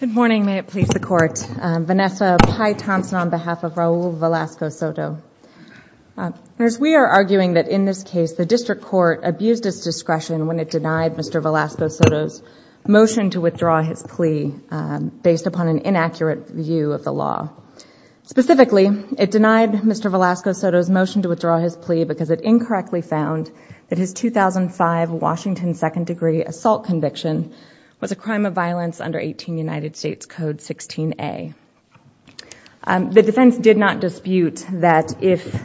Good morning, may it please the court. Vanessa Pye Thompson on behalf of Raul Velasco-Soto. We are arguing that in this case the district court abused its discretion when it denied Mr. Velasco-Soto's motion to withdraw his plea based upon an inaccurate view of the law. Specifically, it denied Mr. Velasco-Soto's motion to withdraw his plea because it incorrectly found that his 2005 Washington second degree assault conviction was a crime of violence under 18 United States Code 16A. The defense did not dispute that if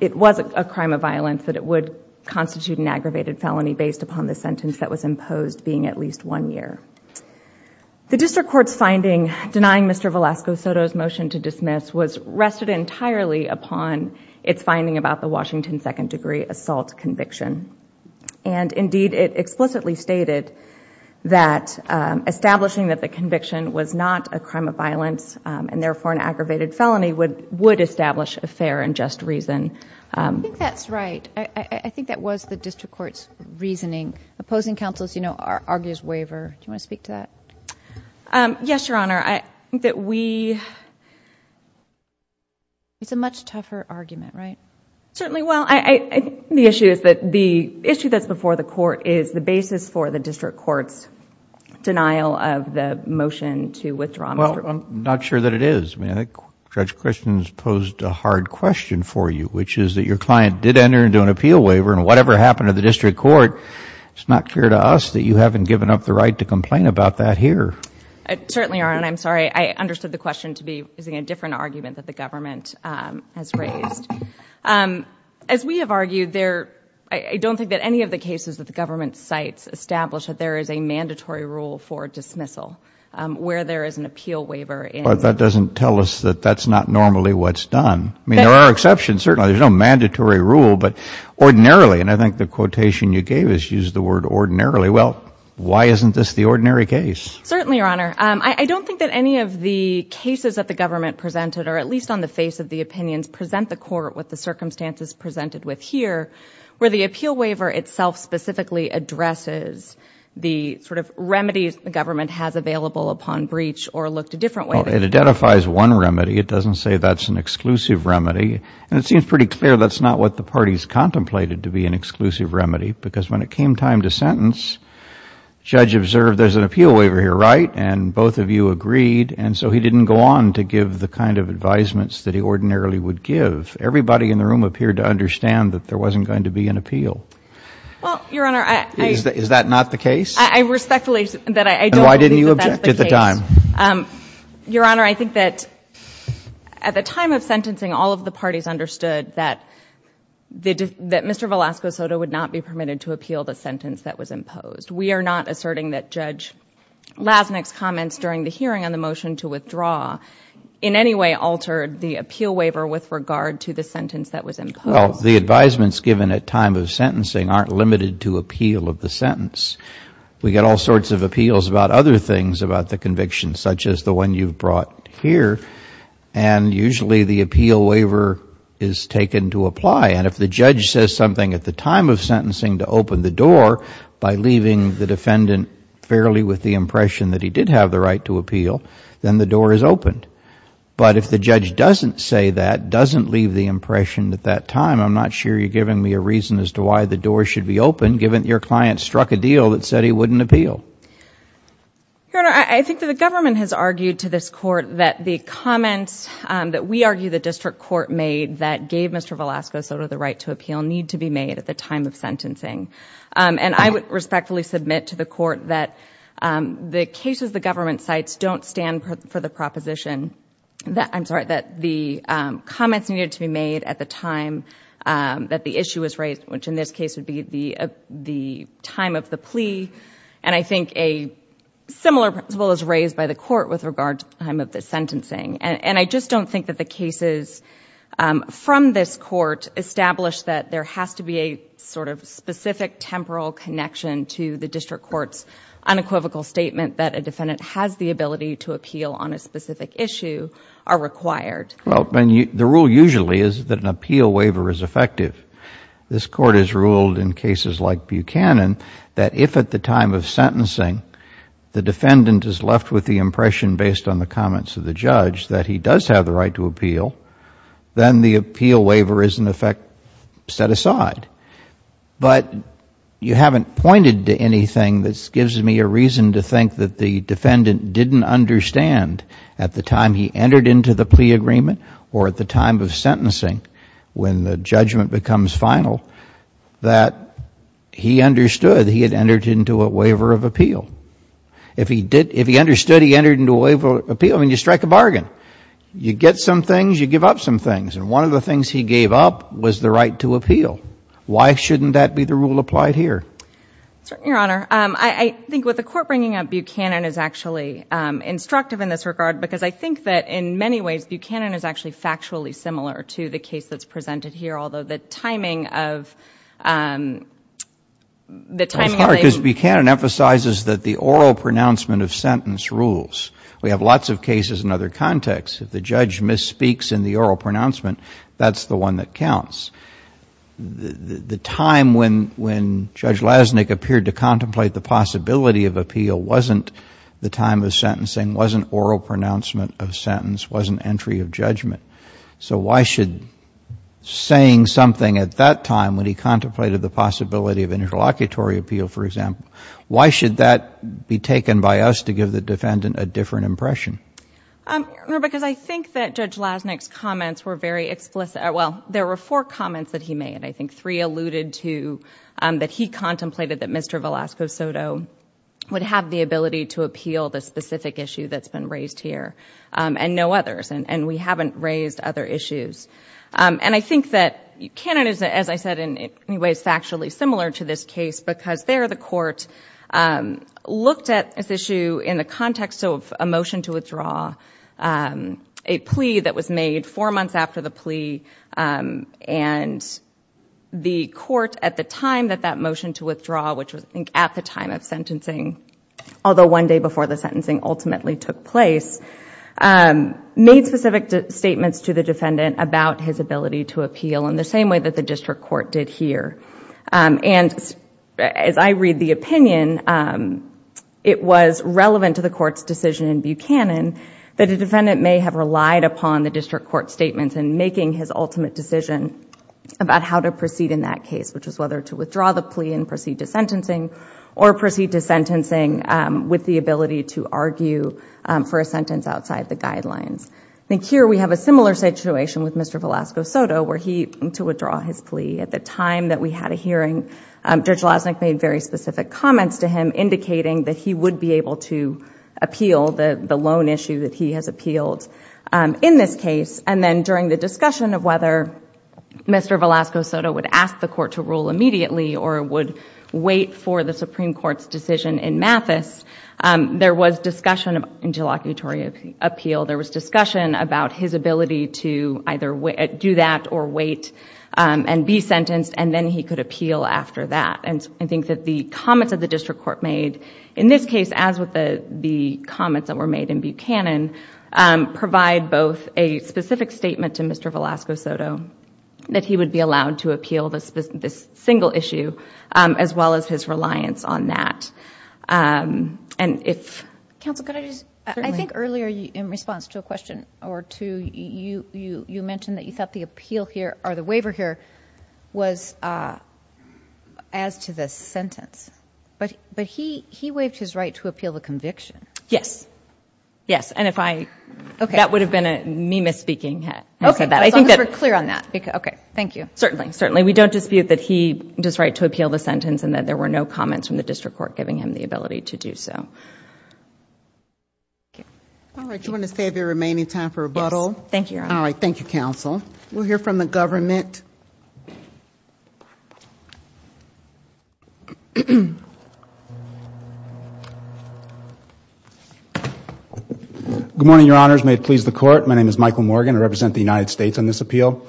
it was a crime of violence that it would constitute an aggravated felony based upon the sentence that was imposed being at least one year. The district court's finding denying Mr. Velasco-Soto's motion to dismiss was rested entirely upon its finding about the Washington second degree assault conviction. Indeed, it explicitly stated that establishing that the conviction was not a crime of violence and therefore an aggravated felony would establish a fair and just reason. I think that's right. I think that was the district court's reasoning. Opposing counsel as you know argues waiver. Do you want to speak to that? Yes, Your Honor. I think that we... It's a much tougher argument, right? Certainly. The issue is that the issue that's before the court is the basis for the district court's denial of the motion to withdraw Mr. Velasco-Soto's motion. I'm not sure that it is. Judge Christians posed a hard question for you which is that your client did enter into an appeal waiver and whatever happened to the district court, it's not clear to us that you haven't given up the right to complain about that here. Certainly, Your Honor. I'm sorry. I understood the question to be using a different argument that the government has raised. As we have argued, I don't think that any of the cases that the government cites establish that there is a mandatory rule for dismissal where there is an appeal waiver. That doesn't tell us that that's not normally what's done. I mean, there are exceptions, and certainly there's no mandatory rule, but ordinarily, and I think the quotation you gave is use the word ordinarily. Well, why isn't this the ordinary case? Certainly, Your Honor. I don't think that any of the cases that the government presented or at least on the face of the opinions present the court with the circumstances presented with here where the appeal waiver itself specifically addresses the sort of remedies the government has available upon breach or looked a different way. Well, it identifies one remedy. It doesn't say that's an exclusive remedy, and it seems pretty clear that's not what the parties contemplated to be an exclusive remedy because when it came time to sentence, Judge observed there's an appeal waiver here, right? And both of you agreed, and so he didn't go on to give the kind of advisements that he ordinarily would give. Everybody in the room appeared to understand that there wasn't going to be an appeal. Well, Your Honor, I... Is that not the case? I respectfully... Then why didn't you object at the time? Your Honor, I think that at the time of sentencing, all of the parties understood that Mr. Velasco Soto would not be permitted to appeal the sentence that was imposed. We are not asserting that Judge Lasnik's comments during the hearing on the motion to withdraw in any way altered the appeal waiver with regard to the sentence that was imposed. Well, the advisements given at time of sentencing aren't limited to appeal of the sentence. We get all sorts of appeals about other things about the conviction, such as the one you've brought here, and usually the appeal waiver is taken to apply. And if the judge says something at the time of sentencing to open the door by leaving the defendant fairly with the impression that he did have the right to appeal, then the door is opened. But if the judge doesn't say that, doesn't leave the impression at that time, I'm not sure you're giving me a client struck a deal that said he wouldn't appeal. Your Honor, I think that the government has argued to this court that the comments that we argue the district court made that gave Mr. Velasco Soto the right to appeal need to be made at the time of sentencing. And I would respectfully submit to the court that the cases the government cites don't stand for the proposition that, I'm sorry, that the comments needed to be made at the time that the issue was raised, which in this case would be the time of the plea. And I think a similar principle is raised by the court with regard to the time of the sentencing. And I just don't think that the cases from this court establish that there has to be a sort of specific temporal connection to the district court's unequivocal statement that a defendant has the ability to appeal on a specific issue are required. The rule usually is that an appeal waiver is effective. This court has ruled in cases like Buchanan that if at the time of sentencing the defendant is left with the impression based on the comments of the judge that he does have the right to appeal, then the appeal waiver is in effect set aside. But you haven't pointed to anything that gives me a reason to think that the defendant didn't understand at the time he entered into the plea agreement or at the time of sentencing when the judgment becomes final that he understood he had entered into a waiver of appeal. If he understood he entered into a waiver of appeal, I mean, you strike a bargain. You get some things, you give up some things. And one of the things he gave up was the right to appeal. Why shouldn't that be the rule applied here? Your Honor, I think what the court bringing up Buchanan is actually instructive in this regard because I think that in many ways Buchanan is actually factually similar to the case that's presented here, although the timing of the timing of the... It's hard because Buchanan emphasizes that the oral pronouncement of sentence rules. We have lots of cases in other contexts. If the judge misspeaks in the oral pronouncement, that's the one that counts. The time when Judge Lasnik appeared to contemplate the possibility of appeal wasn't the time of sentencing, wasn't oral pronouncement of sentence, wasn't entry of judgment. So why should saying something at that time when he contemplated the possibility of interlocutory appeal, for example, why should that be taken by us to give the defendant a different impression? Your Honor, because I think that Judge Lasnik's comments were very explicit. Well, there were four comments that he made. I think three alluded to that he contemplated that Mr. Velasco Soto would have the ability to appeal the specific issue that's been raised here and no others, and we haven't raised other issues. And I think that Buchanan is, as I said, in many ways factually similar to this case because there the court looked at this issue in the court to withdraw a plea that was made four months after the plea, and the court at the time that that motion to withdraw, which was I think at the time of sentencing, although one day before the sentencing ultimately took place, made specific statements to the defendant about his ability to appeal in the same way that the district court did here. And as I mentioned, the defendant may have relied upon the district court statements in making his ultimate decision about how to proceed in that case, which was whether to withdraw the plea and proceed to sentencing or proceed to sentencing with the ability to argue for a sentence outside the guidelines. I think here we have a similar situation with Mr. Velasco Soto where he, to withdraw his plea at the time that we had a hearing, Judge Lasnik made very specific comments to him indicating that he would be able to appeal the loan issue that he has appealed in this case. And then during the discussion of whether Mr. Velasco Soto would ask the court to rule immediately or would wait for the Supreme Court's decision in Mathis, there was discussion of interlocutory appeal. There was discussion about his ability to either do that or wait and be sentenced, and then he could appeal after that. And I think that the comments that the district court made in this case, as with the comments that were made in Buchanan, provide both a specific statement to Mr. Velasco Soto that he would be allowed to appeal this single issue, as well as his reliance on that. And if... Counsel, could I just... Certainly. I think earlier in response to a question or two, you mentioned that you thought the But he waived his right to appeal the conviction. Yes. Yes. And if I... Okay. That would have been me misspeaking. I said that. I think that... Let's be clear on that. Okay. Thank you. Certainly. Certainly. We don't dispute that he does right to appeal the sentence and that there were no comments from the district court giving him the ability to do so. Thank you. All right. Do you want to save your remaining time for rebuttal? Yes. Thank you, Your Honor. All right. Thank you, Counsel. We'll hear from the government. Good morning, Your Honors. May it please the Court. My name is Michael Morgan. I represent the United States on this appeal.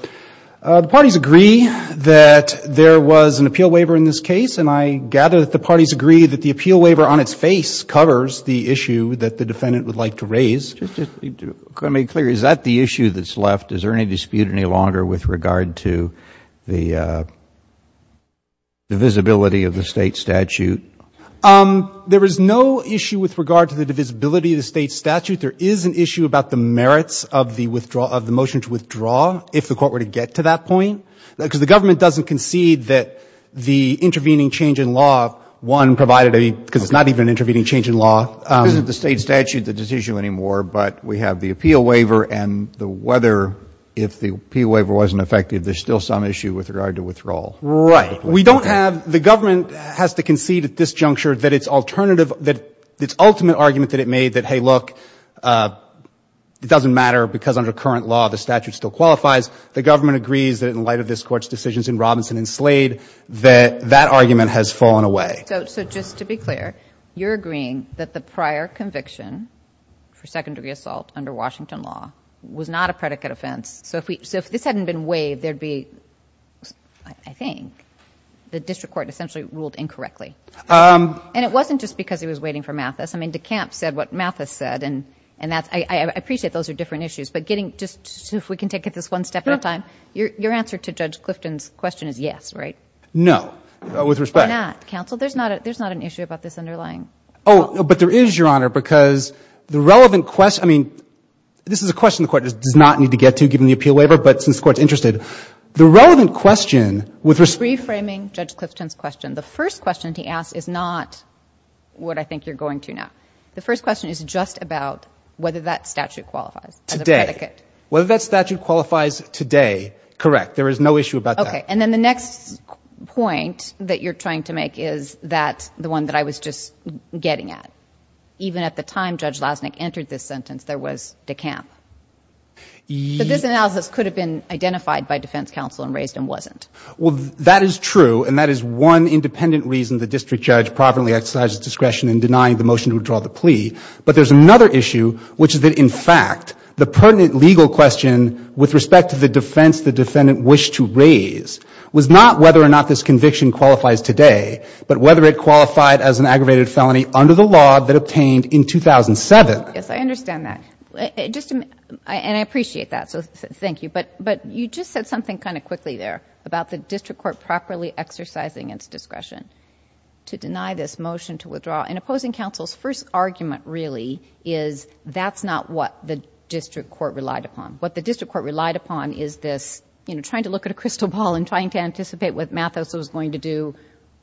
The parties agree that there was an appeal waiver in this case, and I gather that the parties agree that the appeal waiver on its face covers the issue that the defendant would like to raise. Just to make clear, is that the issue that's left? Is there any dispute any longer with regard to the divisibility of the State statute? There is no issue with regard to the divisibility of the State statute. There is an issue about the merits of the motion to withdraw, if the Court were to get to that point. Because the government doesn't concede that the intervening change in law, one provided a... because it's not even an intervening change in law. It isn't the State statute that's the issue anymore, but we have the appeal waiver and the whether, if the appeal waiver wasn't effective, there's still some issue with regard to withdrawal. Right. We don't have... the government has to concede at this juncture that its alternative... that its ultimate argument that it made that, hey, look, it doesn't matter because under current law the statute still qualifies, the government agrees that in light of this Court's decisions in Robinson and Slade, that that argument has fallen away. So just to be clear, you're agreeing that the prior conviction for secondary assault under Washington law was not a predicate offense. So if this hadn't been waived, there'd be... I think the district court essentially ruled incorrectly. And it wasn't just because he was waiting for Mathis. I mean, DeCamp said what Mathis said, and that's... I appreciate those are different issues, but getting... just so we can take it this one step at a time. Your answer to Judge Clifton's question is yes, right? No. With respect... Or not. Counsel, there's not an issue about this underlying... Oh, but there is, Your Honor, because the relevant question... I mean, this is a question the Court does not need to get to, given the appeal waiver, but since the Court's interested, the relevant question with respect... I'm reframing Judge Clifton's question. The first question he asked is not what I think you're going to now. The first question is just about whether that statute qualifies as a predicate. Today. Whether that statute qualifies today, correct. There is no issue about that. Okay. And then the next point that you're trying to make is that, the one that I was just getting at, even at the time Judge Lausnick entered this sentence, there was decamp. But this analysis could have been identified by defense counsel and raised and wasn't. Well, that is true, and that is one independent reason the district judge providently exercised discretion in denying the motion to withdraw the plea. But there's another issue, which is that, in fact, the pertinent legal question with respect to the defense the defendant wished to raise was not whether or not this conviction qualifies today, but whether it qualified as an aggravated felony under the law that obtained in 2007. Yes, I understand that. And I appreciate that, so thank you. But you just said something kind of quickly there about the district court properly exercising its discretion to deny this motion to withdraw. And opposing counsel's first argument, really, is that's not what the district court relied upon. What the district court relied upon is this, you know, trying to look at a crystal ball and trying to anticipate what Mathis was going to do,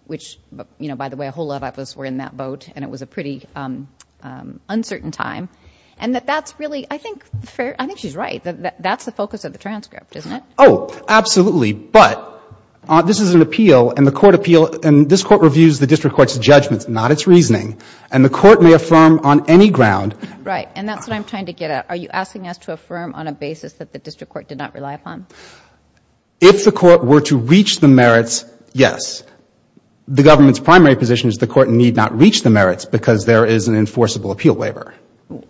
which, you know, by the way, a whole lot of us were in that boat, and it was a pretty uncertain time. And that that's really, I think she's right. That's the focus of the transcript, isn't it? Oh, absolutely. But this is an appeal, and the court appeals, and this court reviews the district court's judgments, not its reasoning. And the court may affirm on any ground. Right. And that's what I'm trying to get at. Are you asking us to affirm on a basis that the district court did not rely upon? If the court were to reach the merits, yes. The government's primary position is the court need not reach the merits because there is an enforceable appeal waiver.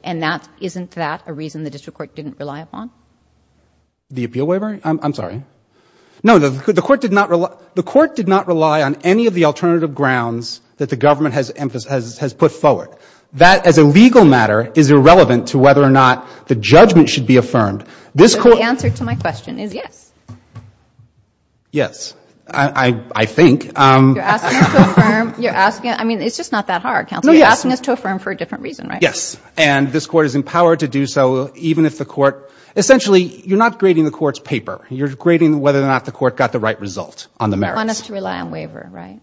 And isn't that a reason the district court didn't rely upon? The appeal waiver? I'm sorry. No, the court did not rely on any of the alternative grounds that the government has put forward. That, as a legal matter, is irrelevant to whether or not the judgment should be affirmed. The answer to my question is yes. Yes. I think. You're asking us to affirm. I mean, it's just not that hard, counsel. You're asking us to affirm for a different reason, right? Yes. And this court is empowered to do so even if the court — essentially, you're not grading the court's paper. You're grading whether or not the court got the right result on the merits. You want us to rely on waiver, right?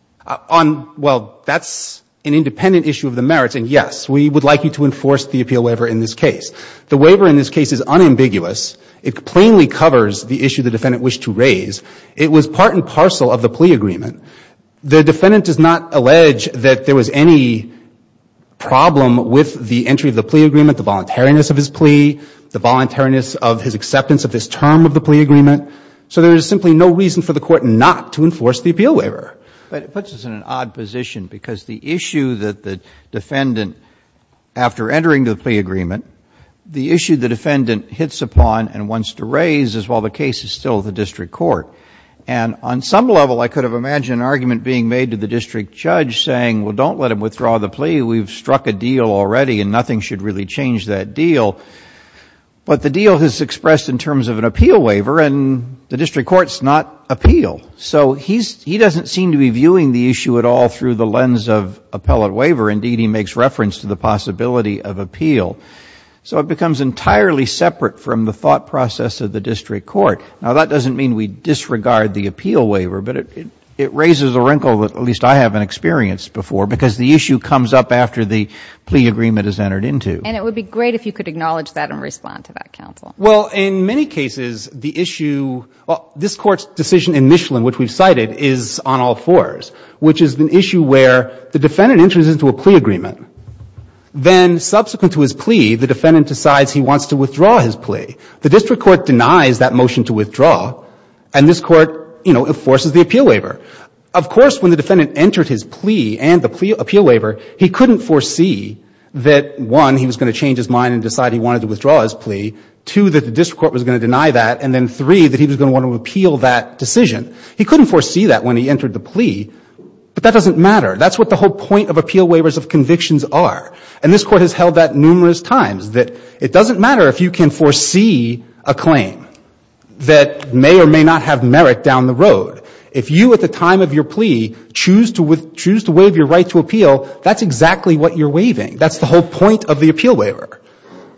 Well, that's an independent issue of the merits, and yes, we would like you to enforce the appeal waiver in this case. The waiver in this case is unambiguous. It plainly covers the issue the defendant wished to raise. It was part and parcel of the plea agreement. The defendant does not allege that there was any problem with the entry of the plea agreement, the voluntariness of his plea, the voluntariness of his acceptance of this term of the plea agreement. So there is simply no reason for the court not to enforce the appeal waiver. But it puts us in an odd position because the issue that the defendant, after entering the plea agreement, the issue the defendant hits upon and wants to raise is, well, the case is still the district court. And on some level, I could have imagined an argument being made to the district judge saying, well, don't let him withdraw the plea. We've struck a deal already, and nothing should really change that deal. But the deal is expressed in terms of an appeal waiver, and the district court's not appeal. So he doesn't seem to be viewing the issue at all through the lens of appellate waiver. Indeed, he makes reference to the possibility of appeal. So it becomes entirely separate from the thought process of the district court. Now, that doesn't mean we disregard the appeal waiver, but it raises a wrinkle that at least I haven't experienced before because the issue comes up after the plea agreement is entered into. And it would be great if you could acknowledge that and respond to that, counsel. Well, in many cases, the issue, this Court's decision in Michelin, which we've cited, is on all fours, which is an issue where the defendant enters into a plea agreement. Then subsequent to his plea, the defendant decides he wants to withdraw his plea. The district court denies that motion to withdraw, and this Court, you know, enforces the appeal waiver. Of course, when the defendant entered his plea and the appeal waiver, he couldn't foresee that, one, he was going to change his mind and decide he wanted to withdraw his plea, two, that the district court was going to deny that, and then, three, that he was going to want to appeal that decision. He couldn't foresee that when he entered the plea, but that doesn't matter. That's what the whole point of appeal waivers of convictions are. And this Court has held that numerous times, that it doesn't matter if you can foresee a claim that may or may not have merit down the road. If you, at the time of your plea, choose to waive your right to appeal, that's exactly what you're waiving. That's the whole point of the appeal waiver.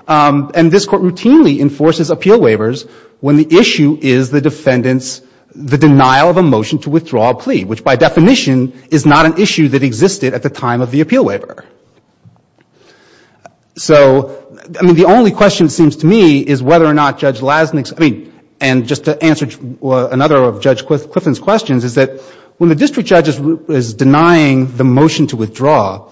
And this Court routinely enforces appeal waivers when the issue is the defendant's the denial of a motion to withdraw a plea, which, by definition, is not an issue that existed at the time of the appeal waiver. So, I mean, the only question, it seems to me, is whether or not Judge Lasnik's, I mean, and just to answer another of Judge Clifton's questions, is that when the district judge is denying the motion to withdraw,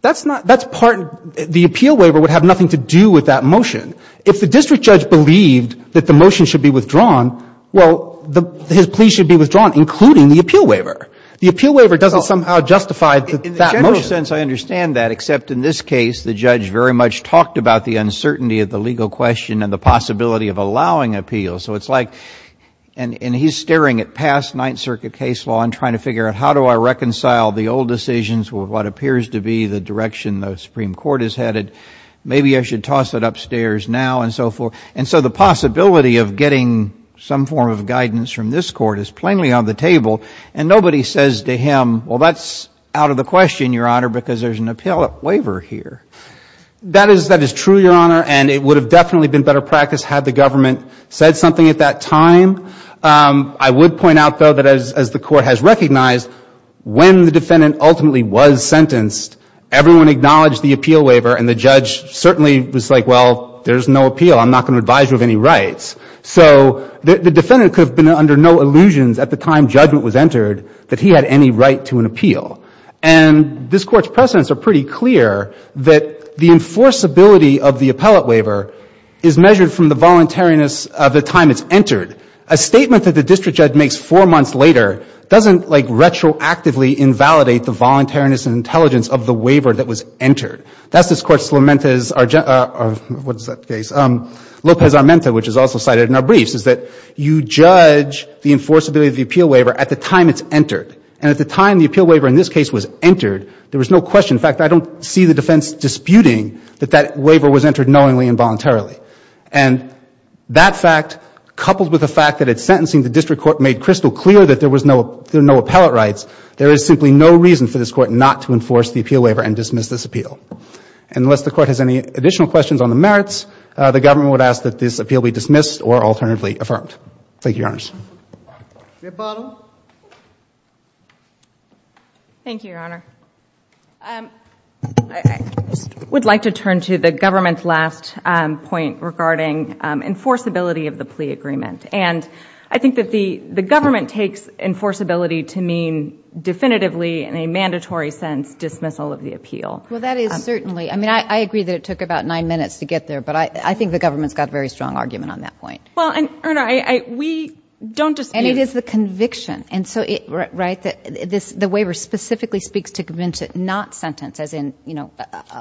that's not, that's part, the appeal waiver would have nothing to do with that motion. If the district judge believed that the motion should be withdrawn, well, his plea should be withdrawn, including the appeal waiver. The appeal waiver doesn't somehow justify that motion. In the general sense, I understand that, except in this case, the judge very much talked about the uncertainty of the legal question and the possibility of allowing appeal. So it's like, and he's staring at past Ninth Circuit case law and trying to figure out how do I reconcile the old decisions with what appears to be the direction the Supreme Court is headed. Maybe I should toss it upstairs now and so forth. And so the possibility of getting some form of guidance from this Court is plainly on the table, and nobody says to him, well, that's out of the question, Your Honor, because there's an appeal waiver here. That is true, Your Honor, and it would have definitely been better practice had the government said something at that time. I would point out, though, that as the Court has recognized, when the defendant ultimately was sentenced, everyone acknowledged the appeal waiver and the judge certainly was like, well, there's no appeal. I'm not going to advise you of any rights. So the defendant could have been under no illusions at the time judgment was entered that he had any right to an appeal. And this Court's precedents are pretty clear that the enforceability of the appellate waiver is measured from the voluntariness of the time it's entered. A statement that the district judge makes four months later doesn't, like, retroactively invalidate the voluntariness and intelligence of the waiver that was entered. That's this Court's Lopez-Armenta, which is also cited in our briefs, is that you judge the enforceability of the appeal waiver at the time it's entered. And at the time the appeal waiver in this case was entered, there was no question in fact, I don't see the defense disputing that that waiver was entered knowingly and voluntarily. And that fact, coupled with the fact that at sentencing the district court made crystal clear that there was no appellate rights, there is simply no reason for this Court not to enforce the appeal waiver and dismiss this appeal. And unless the Court has any additional questions on the merits, the government would ask that this appeal be dismissed or alternatively affirmed. Thank you, Your Honors. Ms. Bottom. Thank you, Your Honor. I would like to turn to the government's last point regarding enforceability of the plea agreement. And I think that the government takes enforceability to mean definitively in a mandatory sense dismissal of the appeal. Well, that is certainly. I mean, I agree that it took about nine minutes to get there, but I think the government's got a very strong argument on that point. Well, and, Your Honor, we don't dispute. And it is the conviction. Right? The waiver specifically speaks to convince it not sentence, as in, you know,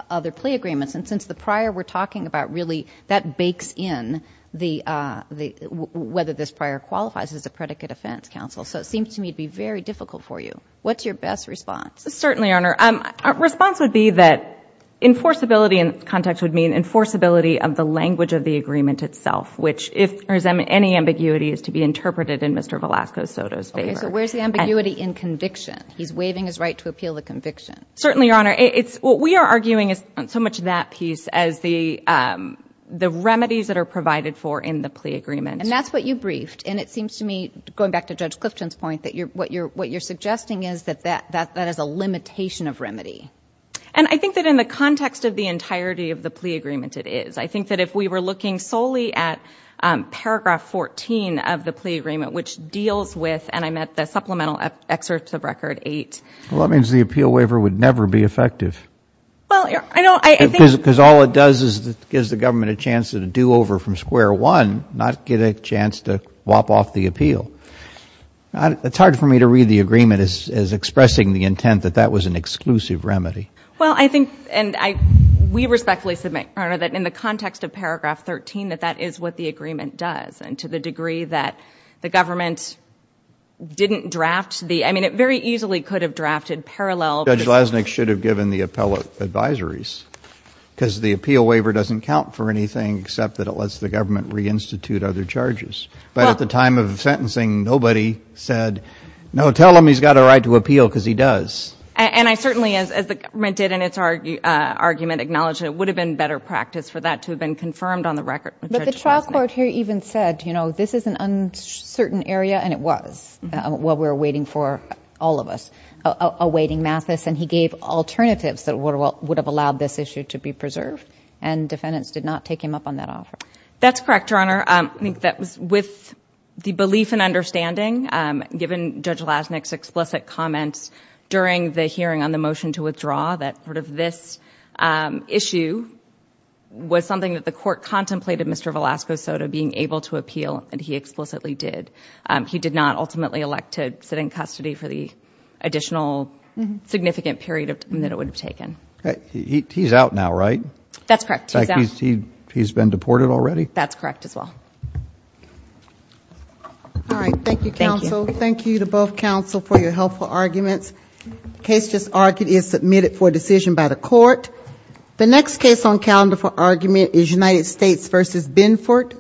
other plea agreements. And since the prior we're talking about, really, that bakes in whether this prior qualifies as a predicate offense, counsel. So it seems to me to be very difficult for you. What's your best response? Certainly, Your Honor. Response would be that enforceability in context would mean enforceability of the language of the agreement itself, which if there's any ambiguity is to be interpreted in Mr. Velasco Soto's favor. Okay. So where's the ambiguity in conviction? He's waiving his right to appeal the conviction. Certainly, Your Honor. What we are arguing is not so much that piece as the remedies that are provided for in the plea agreement. And that's what you briefed. And it seems to me, going back to Judge Clifton's point, that what you're suggesting is that that is a limitation of remedy. And I think that in the context of the entirety of the plea agreement, it is. I think that if we were looking solely at paragraph 14 of the plea agreement, which deals with, and I meant the supplemental excerpts of record 8. Well, that means the appeal waiver would never be effective. Well, I know. Because all it does is it gives the government a chance to do over from square one, not get a chance to wop off the appeal. It's hard for me to read the agreement as expressing the intent that that was an exclusive remedy. Well, I think, and we respectfully submit, Your Honor, that in the context of paragraph 13, that that is what the agreement does. And to the degree that the government didn't draft the, I mean, it very easily could have drafted parallel. Judge Glasnick should have given the appellate advisories, because the appeal waiver doesn't count for anything except that it lets the government reinstitute other charges. But at the time of sentencing, nobody said, no, tell him he's got a right to appeal, because he does. And I certainly, as the government did in its argument, acknowledge that it would have been better practice for that to have been confirmed on the record. But the trial court here even said, you know, this is an uncertain area, and it was, while we were waiting for, all of us, awaiting Mathis, and he gave alternatives that would have allowed this issue to be preserved, and defendants did not take him up on that offer. That's correct, Your Honor. I think that was with the belief and understanding, given Judge Glasnick's explicit comments during the hearing on the motion to withdraw, that sort of this issue was something that the court contemplated Mr. Velasco Soto being able to appeal, and he explicitly did. He did not ultimately elect to sit in custody for the additional significant period that it would have taken. He's out now, right? That's correct. He's out. He's been deported already? That's correct as well. All right. Thank you, counsel. Thank you. Thank you to both counsel for your helpful arguments. The case just argued is submitted for decision by the court. The next case on calendar for argument is United States v. Binford.